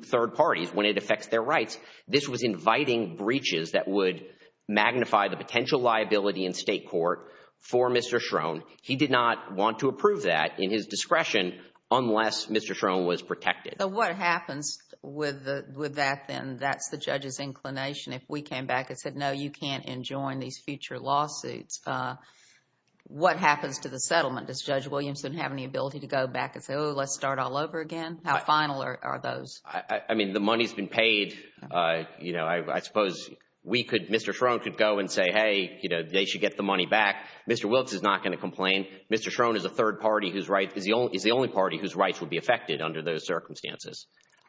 third parties when it affects their rights. This was inviting breaches that would magnify the potential liability in state court for Mr. Shrone. He did not want to approve that in his discretion unless Mr. Shrone was protected. So what happens with that then? That's the judge's inclination if we came back and said, no, you can't enjoin these future lawsuits. What happens to the settlement? Does Judge Williamson have any ability to go back and say, oh, let's start all over again? How final are those? I mean, the money's been paid. I suppose Mr. Shrone could go and say, hey, they should get the money back. Mr. Wilkes is not going to complain. Mr. Shrone is the only party whose rights would be affected under those circumstances.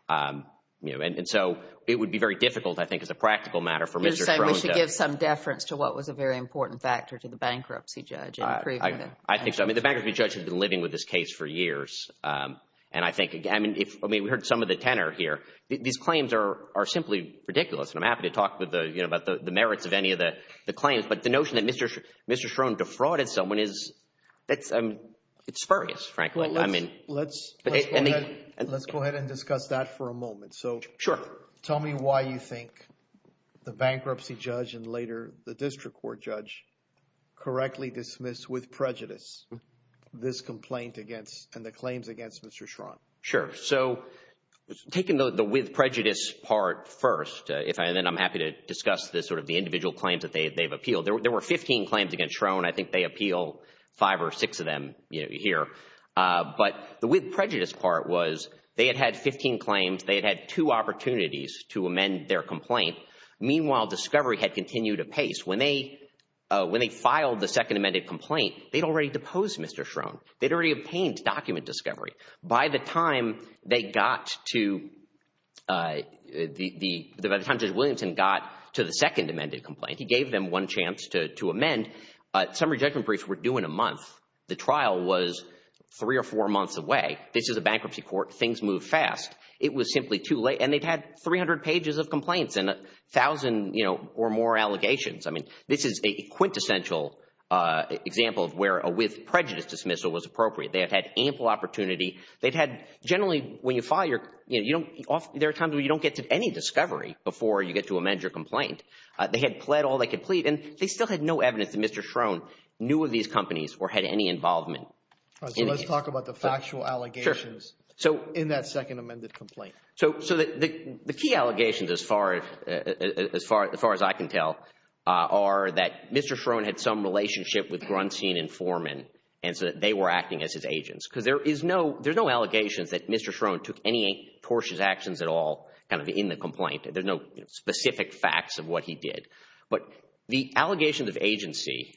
And so it would be very difficult, I think, as a practical matter for Mr. Shrone. You're saying we should give some deference to what was a very important factor to the bankruptcy judge in approving it. I think so. I mean, the bankruptcy judge has been living with this case for years. And I think, I mean, we heard some of the tenor here. These claims are simply ridiculous. And I'm happy to talk about the merits of any of the claims. But the notion that Mr. Shrone defrauded someone is spurious, frankly. Let's go ahead and discuss that for a moment. So tell me why you think the bankruptcy judge and later the district court judge correctly dismissed with prejudice this complaint against and the claims against Mr. Shrone. Sure. So taking the with prejudice part first, and then I'm happy to discuss sort of the individual claims that they've appealed. There were 15 claims against Shrone. I think they appeal five or six of them here. But the with prejudice part was they had had 15 claims. They had had two opportunities to amend their complaint. Meanwhile, discovery had continued apace. When they filed the second amended complaint, they'd already deposed Mr. Shrone. They'd already obtained document discovery. By the time Judge Williamson got to the second amended complaint, he gave them one chance to amend. Summary judgment briefs were due in a month. The trial was three or four months away. This is a bankruptcy court. Things move fast. It was simply too late, and they'd had 300 pages of complaints and 1,000 or more allegations. I mean, this is a quintessential example of where a with prejudice dismissal was appropriate. They had had ample opportunity. They'd had generally when you file, there are times when you don't get to any discovery before you get to amend your complaint. They had pled all they could plead, and they still had no evidence that Mr. Shrone knew of these companies or had any involvement. All right, so let's talk about the factual allegations in that second amended complaint. So the key allegations, as far as I can tell, are that Mr. Shrone had some relationship with Grunstein and Foreman, and so that they were acting as his agents. Because there's no allegations that Mr. Shrone took any tortious actions at all kind of in the complaint. There's no specific facts of what he did. But the allegations of agency,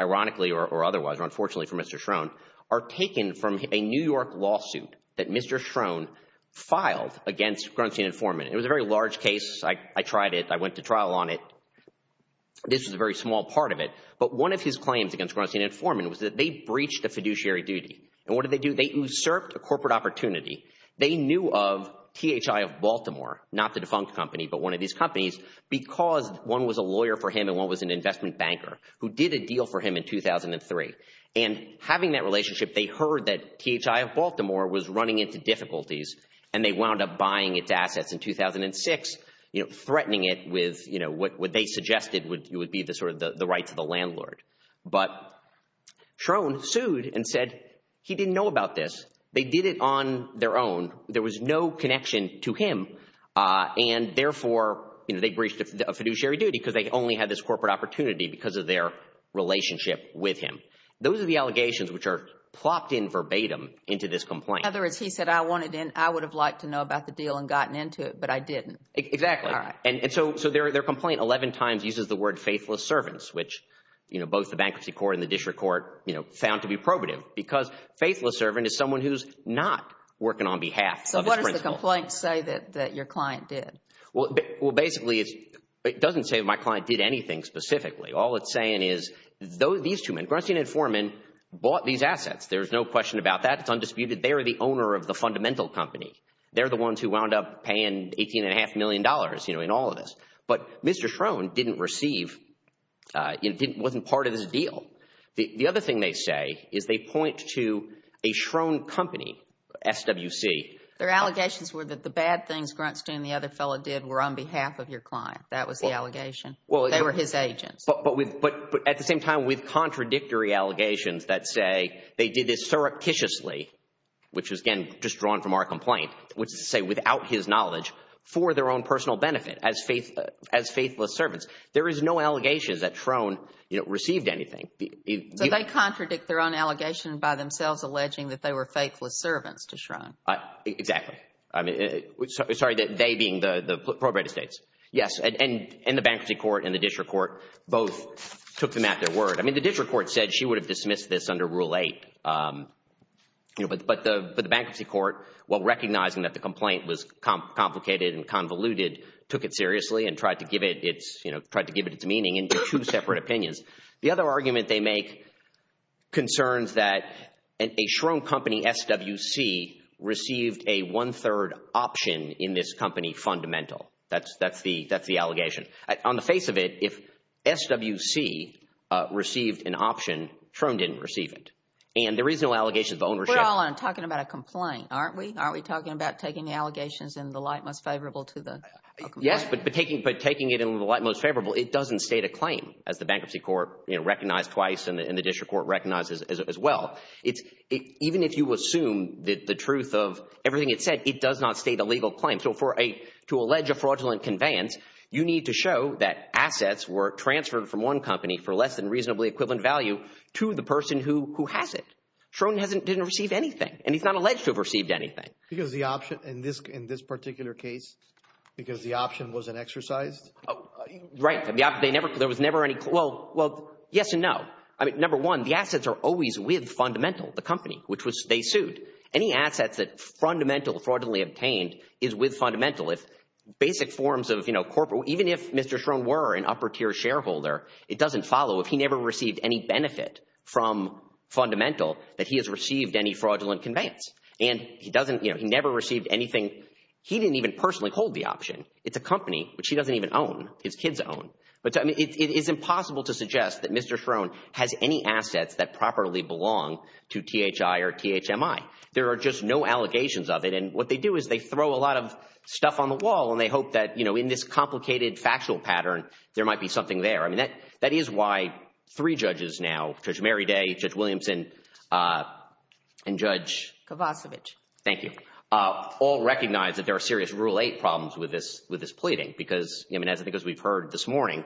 ironically or otherwise, or unfortunately for Mr. Shrone, are taken from a New York lawsuit that Mr. Shrone filed against Grunstein and Foreman. It was a very large case. I tried it. I went to trial on it. This is a very small part of it. But one of his claims against Grunstein and Foreman was that they breached a fiduciary duty. And what did they do? They usurped a corporate opportunity. They knew of THI of Baltimore, not the defunct company, but one of these companies, because one was a lawyer for him and one was an investment banker, who did a deal for him in 2003. And having that relationship, they heard that THI of Baltimore was running into difficulties, and they wound up buying its assets in 2006, threatening it with what they suggested would be the rights of the landlord. But Shrone sued and said he didn't know about this. They did it on their own. There was no connection to him, and therefore they breached a fiduciary duty because they only had this corporate opportunity because of their relationship with him. Those are the allegations which are plopped in verbatim into this complaint. In other words, he said, I would have liked to know about the deal and gotten into it, but I didn't. Exactly. And so their complaint 11 times uses the word faithless servants, which both the bankruptcy court and the district court found to be probative because faithless servant is someone who's not working on behalf of his principal. So what does the complaint say that your client did? Well, basically it doesn't say my client did anything specifically. All it's saying is these two men, Grunstein and Foreman, bought these assets. There's no question about that. It's undisputed. They are the owner of the fundamental company. They're the ones who wound up paying $18.5 million in all of this. But Mr. Shrone didn't receive, wasn't part of this deal. The other thing they say is they point to a Shrone company, SWC. Their allegations were that the bad things Grunstein and the other fellow did were on behalf of your client. That was the allegation. They were his agents. But at the same time, with contradictory allegations that say they did this surreptitiously, which was, again, just drawn from our complaint, which is to say without his knowledge, for their own personal benefit as faithless servants. There is no allegation that Shrone received anything. So they contradict their own allegation by themselves alleging that they were faithless servants to Shrone. Exactly. I mean, sorry, they being the prorated states. Yes. And the bankruptcy court and the district court both took them at their word. I mean, the district court said she would have dismissed this under Rule 8. But the bankruptcy court, while recognizing that the complaint was complicated and convoluted, took it seriously and tried to give it its meaning into two separate opinions. The other argument they make concerns that a Shrone company, SWC, received a one-third option in this company fundamental. That's the allegation. On the face of it, if SWC received an option, Shrone didn't receive it. And there is no allegation of ownership. We're all talking about a complaint, aren't we? Aren't we talking about taking the allegations in the light most favorable to the complaint? Yes, but taking it in the light most favorable, it doesn't state a claim, as the bankruptcy court recognized twice and the district court recognizes as well. Even if you assume the truth of everything it said, it does not state a legal claim. So to allege a fraudulent conveyance, you need to show that assets were transferred from one company for less than reasonably equivalent value to the person who has it. Shrone didn't receive anything, and he's not alleged to have received anything. Because the option in this particular case, because the option wasn't exercised? Right. There was never any – well, yes and no. I mean, number one, the assets are always with fundamental, the company, which they sued. Any assets that fundamental fraudulently obtained is with fundamental. Basic forms of corporate – even if Mr. Shrone were an upper-tier shareholder, it doesn't follow if he never received any benefit from fundamental that he has received any fraudulent conveyance. And he doesn't – he never received anything. He didn't even personally hold the option. It's a company, which he doesn't even own. His kids own. But it is impossible to suggest that Mr. Shrone has any assets that properly belong to THI or THMI. There are just no allegations of it, and what they do is they throw a lot of stuff on the wall, and they hope that in this complicated factual pattern, there might be something there. I mean, that is why three judges now, Judge Mary Day, Judge Williamson, and Judge – Kovacevic. Thank you. All recognize that there are serious Rule 8 problems with this pleading because, I mean, as we've heard this morning,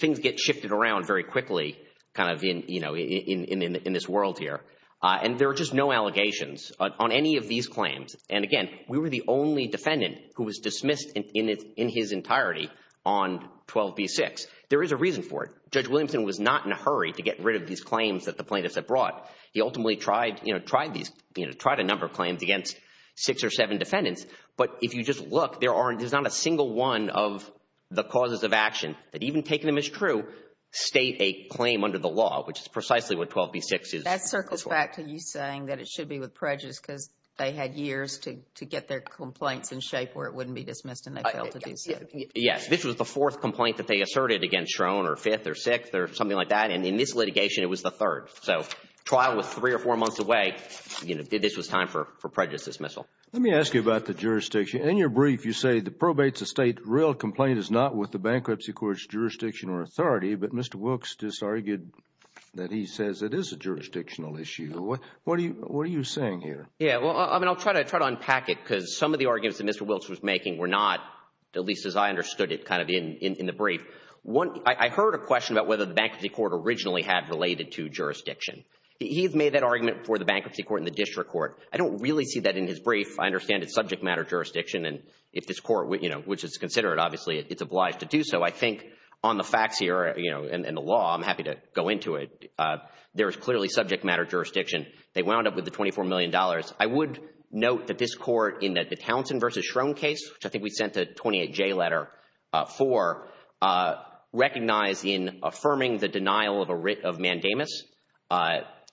things get shifted around very quickly kind of in this world here. And there are just no allegations on any of these claims. And, again, we were the only defendant who was dismissed in his entirety on 12b-6. There is a reason for it. Judge Williamson was not in a hurry to get rid of these claims that the plaintiffs had brought. He ultimately tried a number of claims against six or seven defendants. But if you just look, there's not a single one of the causes of action that, even taking them as true, state a claim under the law, which is precisely what 12b-6 is. That circles back to you saying that it should be with prejudice because they had years to get their complaints in shape where it wouldn't be dismissed and they failed to do so. Yes. This was the fourth complaint that they asserted against Schroen or fifth or sixth or something like that. And in this litigation, it was the third. So trial was three or four months away. This was time for prejudice dismissal. Let me ask you about the jurisdiction. In your brief, you say the probates of state real complaint is not with the bankruptcy court's jurisdiction or authority, but Mr. Wilkes just argued that he says it is a jurisdictional issue. What are you saying here? Yeah, well, I mean, I'll try to unpack it because some of the arguments that Mr. Wilkes was making were not, at least as I understood it, kind of in the brief. I heard a question about whether the bankruptcy court originally had related to jurisdiction. He made that argument for the bankruptcy court and the district court. I don't really see that in his brief. I understand it's subject matter jurisdiction, and if this court, which is considered, obviously, it's obliged to do so. I think on the facts here and the law, I'm happy to go into it. There is clearly subject matter jurisdiction. They wound up with the $24 million. I would note that this court in the Townsend v. Schroen case, which I think we sent a 28-J letter for, recognized in affirming the denial of mandamus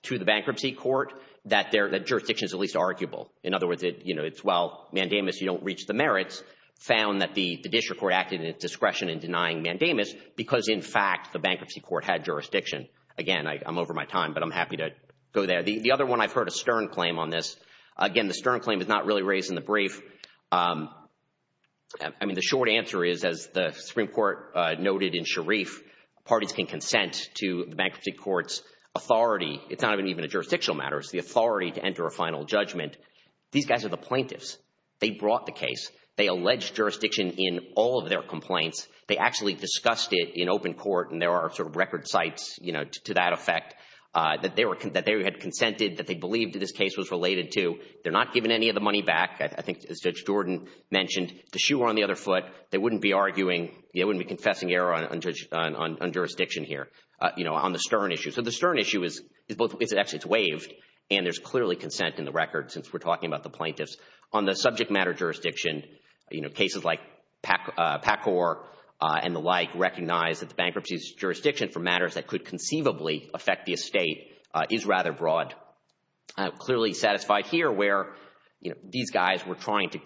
to the bankruptcy court that jurisdiction is at least arguable. In other words, it's, well, mandamus, you don't reach the merits, found that the district court acted in its discretion in denying mandamus because, in fact, the bankruptcy court had jurisdiction. Again, I'm over my time, but I'm happy to go there. The other one, I've heard a stern claim on this. Again, the stern claim is not really raised in the brief. I mean, the short answer is, as the Supreme Court noted in Sharif, parties can consent to the bankruptcy court's authority. It's not even a jurisdictional matter. It's the authority to enter a final judgment. These guys are the plaintiffs. They brought the case. They alleged jurisdiction in all of their complaints. They actually discussed it in open court, and there are sort of record sites, you know, to that effect, that they had consented, that they believed this case was related to. They're not giving any of the money back. I think, as Judge Jordan mentioned, the shoe on the other foot. They wouldn't be arguing. They wouldn't be confessing error on jurisdiction here, you know, on the stern issue. So the stern issue is both—actually, it's waived, and there's clearly consent in the record since we're talking about the plaintiffs. On the subject matter jurisdiction, you know, cases like Pacor and the like recognize that the bankruptcy's jurisdiction for matters that could conceivably affect the estate is rather broad. Clearly satisfied here where, you know, these guys were trying to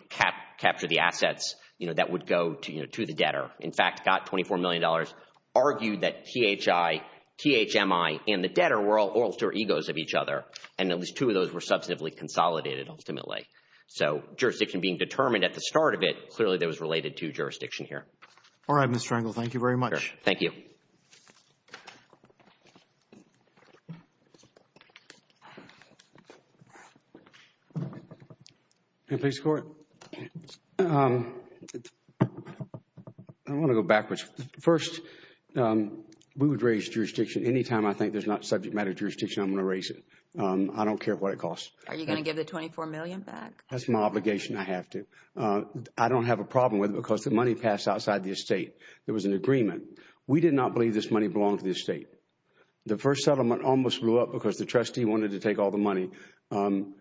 capture the assets, you know, that would go to the debtor. In fact, got $24 million, argued that THI, THMI, and the debtor were all alter egos of each other, and at least two of those were substantively consolidated ultimately. So jurisdiction being determined at the start of it, clearly that was related to jurisdiction here. All right, Mr. Engel. Thank you very much. Thank you. Can I please score it? Yeah. I want to go backwards. First, we would raise jurisdiction any time I think there's not subject matter jurisdiction, I'm going to raise it. I don't care what it costs. Are you going to give the $24 million back? That's my obligation. I have to. I don't have a problem with it because the money passed outside the estate. There was an agreement. We did not believe this money belonged to the estate. The first settlement almost blew up because the trustee wanted to take all the money, and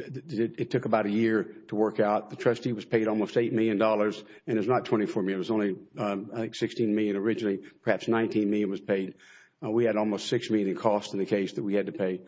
it took about a year to work out. The trustee was paid almost $8 million, and it was not $24 million. It was only, I think, $16 million originally. Perhaps $19 million was paid. We had almost $6 million in costs in the case that we had to pay.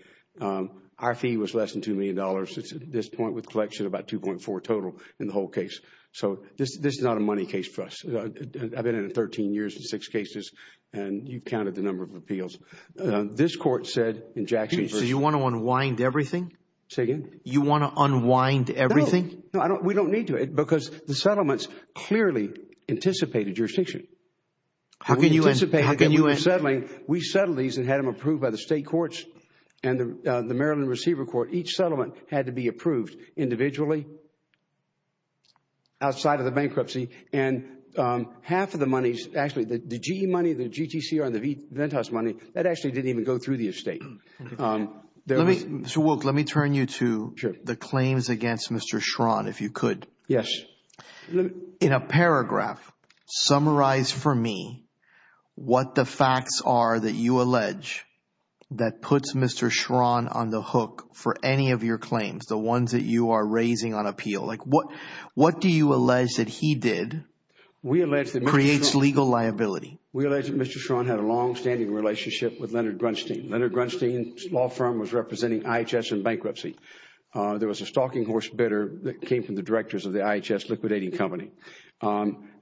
Our fee was less than $2 million. It's at this point with collection about $2.4 million total in the whole case. So this is not a money case for us. I've been in it 13 years in six cases, and you've counted the number of appeals. This court said in Jackson versus- So you want to unwind everything? Say again? You want to unwind everything? No. We don't need to because the settlements clearly anticipated jurisdiction. How can you- We anticipated that we were settling. We settled these and had them approved by the state courts and the Maryland Receiver Court. Each settlement had to be approved individually outside of the bankruptcy, and half of the money, actually the GE money, the GTCR, and the Ventas money, that actually didn't even go through the estate. Mr. Wilk, let me turn you to the claims against Mr. Schron, if you could. Yes. In a paragraph, summarize for me what the facts are that you allege that puts Mr. Schron on the hook for any of your claims, the ones that you are raising on appeal. What do you allege that he did creates legal liability? We allege that Mr. Schron had a longstanding relationship with Leonard Grunstein. Leonard Grunstein's law firm was representing IHS in bankruptcy. There was a stalking horse bidder that came from the directors of the IHS liquidating company.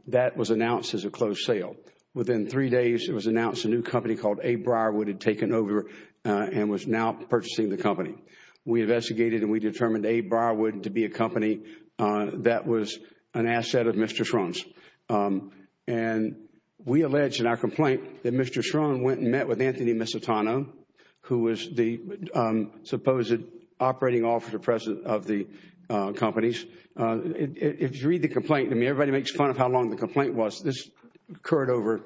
That was announced as a closed sale. Within three days, it was announced a new company called A. Briarwood had taken over and was now purchasing the company. We investigated and we determined A. Briarwood to be a company that was an asset of Mr. Schron's. We allege in our complaint that Mr. Schron went and met with Anthony Misitano, who was the supposed operating officer president of the companies. If you read the complaint, I mean, everybody makes fun of how long the complaint was. This occurred over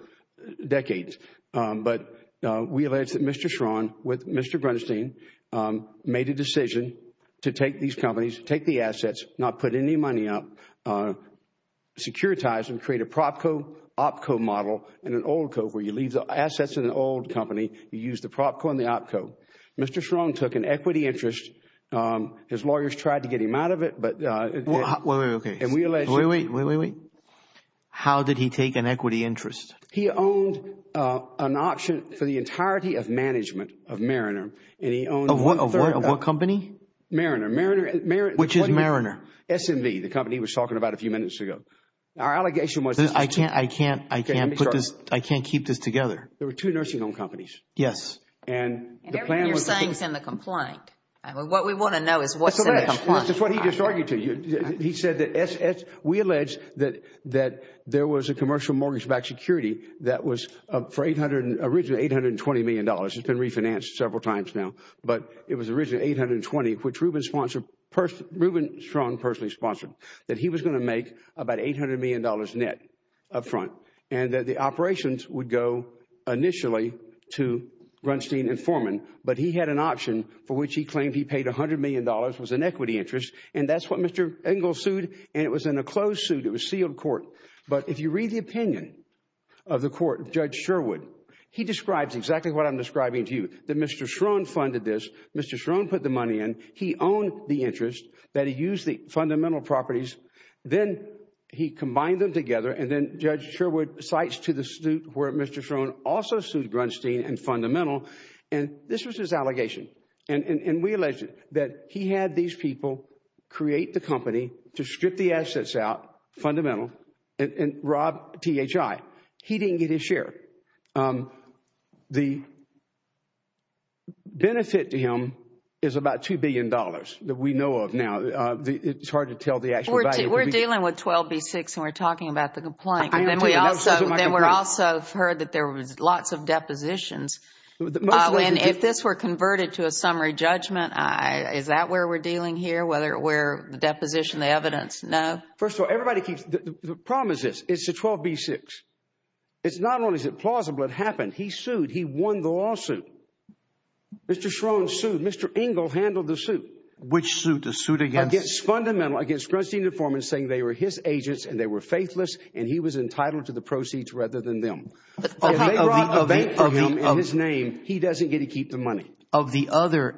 decades. But we allege that Mr. Schron, with Mr. Grunstein, made a decision to take these companies, take the assets, not put any money up, securitize them, create a prop co-op co-model and an oil co-op where you leave the assets in an oil company. You use the prop co-op and the op co-op. Mr. Schron took an equity interest. His lawyers tried to get him out of it. Wait, wait, wait. How did he take an equity interest? He owned an option for the entirety of management of Mariner. Of what company? Mariner. Which is Mariner? SMV, the company he was talking about a few minutes ago. I can't keep this together. There were two nursing home companies. Yes. And everything you're saying is in the complaint. What we want to know is what's in the complaint. That's what he just argued to you. He said that we allege that there was a commercial mortgage-backed security that was originally $820 million. It's been refinanced several times now. But it was originally $820 million, which Ruben Schron personally sponsored, that he was going to make about $800 million net up front, and that the operations would go initially to Grunstein and Foreman. But he had an option for which he claimed he paid $100 million, was an equity interest, and that's what Mr. Engel sued, and it was in a closed suit. It was sealed court. But if you read the opinion of the court, Judge Sherwood, he describes exactly what I'm describing to you, that Mr. Schron funded this. Mr. Schron put the money in. He owned the interest, that he used the fundamental properties. Then he combined them together, and then Judge Sherwood cites to the suit where Mr. Schron also sued Grunstein and Fundamental, and this was his allegation. And we alleged that he had these people create the company to strip the assets out, Fundamental, and rob THI. He didn't get his share. The benefit to him is about $2 billion that we know of now. It's hard to tell the actual value. We're dealing with 12B6, and we're talking about the complaint. Then we also heard that there was lots of depositions. And if this were converted to a summary judgment, is that where we're dealing here, where the deposition, the evidence? No? First of all, everybody keeps – the problem is this. It's the 12B6. It's not only is it plausible, it happened. He sued. He won the lawsuit. Mr. Schron sued. Mr. Engel handled the suit. Which suit? The suit against? Against Fundamental, against Grunstein and Informant, saying they were his agents and they were faithless, and he was entitled to the proceeds rather than them. If they rob a bank for him in his name, he doesn't get to keep the money. Of the other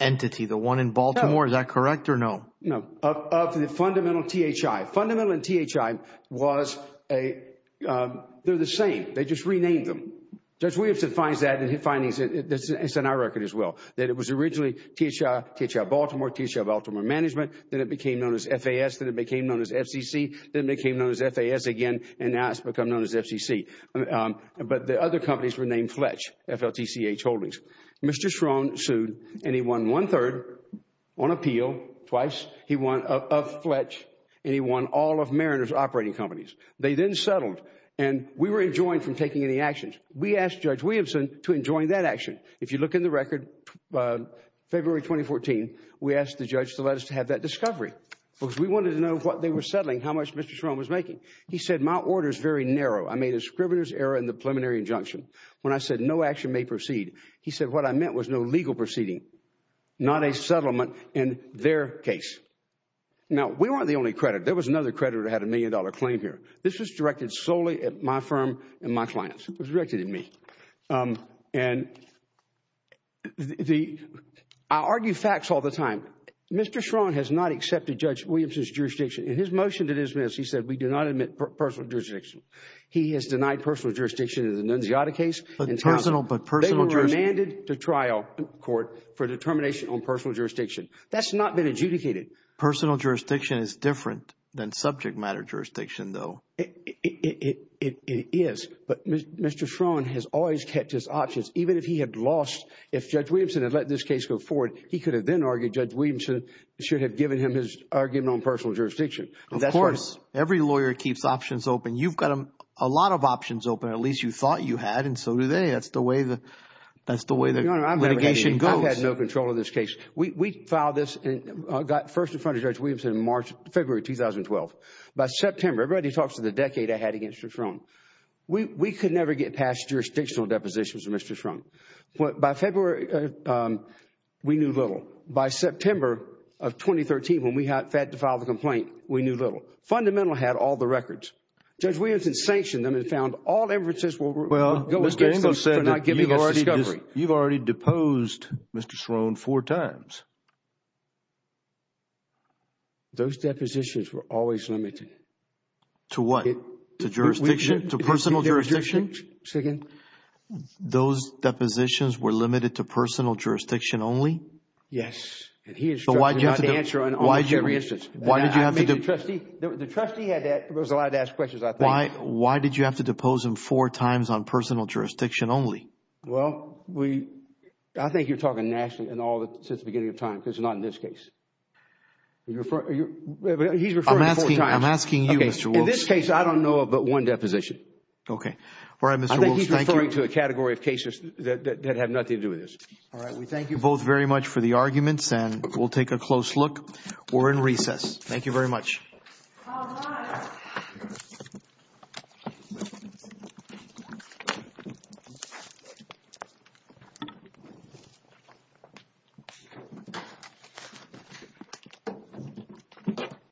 entity, the one in Baltimore, is that correct or no? No, of the Fundamental THI. Fundamental and THI was a – they're the same. They just renamed them. Judge Williamson finds that in his findings, and it's in our record as well, that it was originally THI, THI Baltimore, THI Baltimore Management. Then it became known as FAS. Then it became known as FCC. Then it became known as FAS again, and now it's become known as FCC. But the other companies were named Fletch, F-L-T-C-H Holdings. Mr. Schron sued, and he won one-third on appeal, twice. He won a Fletch, and he won all of Mariner's operating companies. They then settled, and we were enjoined from taking any actions. We asked Judge Williamson to enjoin that action. If you look in the record, February 2014, we asked the judge to let us have that discovery because we wanted to know what they were settling, how much Mr. Schron was making. He said, my order is very narrow. I made a scrivener's error in the preliminary injunction. When I said no action may proceed, he said what I meant was no legal proceeding, not a settlement in their case. Now, we weren't the only creditor. There was another creditor that had a million-dollar claim here. This was directed solely at my firm and my clients. It was directed at me. And I argue facts all the time. Mr. Schron has not accepted Judge Williamson's jurisdiction. In his motion to dismiss, he said we do not admit personal jurisdiction. He has denied personal jurisdiction in the Nunziata case. They were remanded to trial court for determination on personal jurisdiction. That's not been adjudicated. Personal jurisdiction is different than subject matter jurisdiction, though. It is. But Mr. Schron has always kept his options. Even if he had lost, if Judge Williamson had let this case go forward, he could have then argued Judge Williamson should have given him his argument on personal jurisdiction. Of course. Every lawyer keeps options open. You've got a lot of options open, at least you thought you had, and so do they. That's the way the litigation goes. Your Honor, I've had no control of this case. We filed this and got first in front of Judge Williamson in February 2012. By September, everybody talks of the decade I had against Mr. Schron. We could never get past jurisdictional depositions with Mr. Schron. By February, we knew little. By September of 2013, when we had to file the complaint, we knew little. Fundamental had all the records. Judge Williamson sanctioned them and found all inferences were going against them for not giving us discovery. You've already deposed Mr. Schron four times. Those depositions were always limited. To what? To jurisdiction? To personal jurisdiction? Say again? Those depositions were limited to personal jurisdiction only? Yes, and he instructed not to answer on almost every instance. Why did you have to do it? The trustee was allowed to ask questions, I think. Why did you have to depose him four times on personal jurisdiction only? Well, I think you're talking nationally since the beginning of time because it's not in this case. He's referring to four times. I'm asking you, Mr. Wilkes. In this case, I don't know of but one deposition. All right, Mr. Wilkes, thank you. I think he's referring to a category of cases that have nothing to do with this. All right, we thank you both very much for the arguments and we'll take a close look. We're in recess. Thank you very much. All right.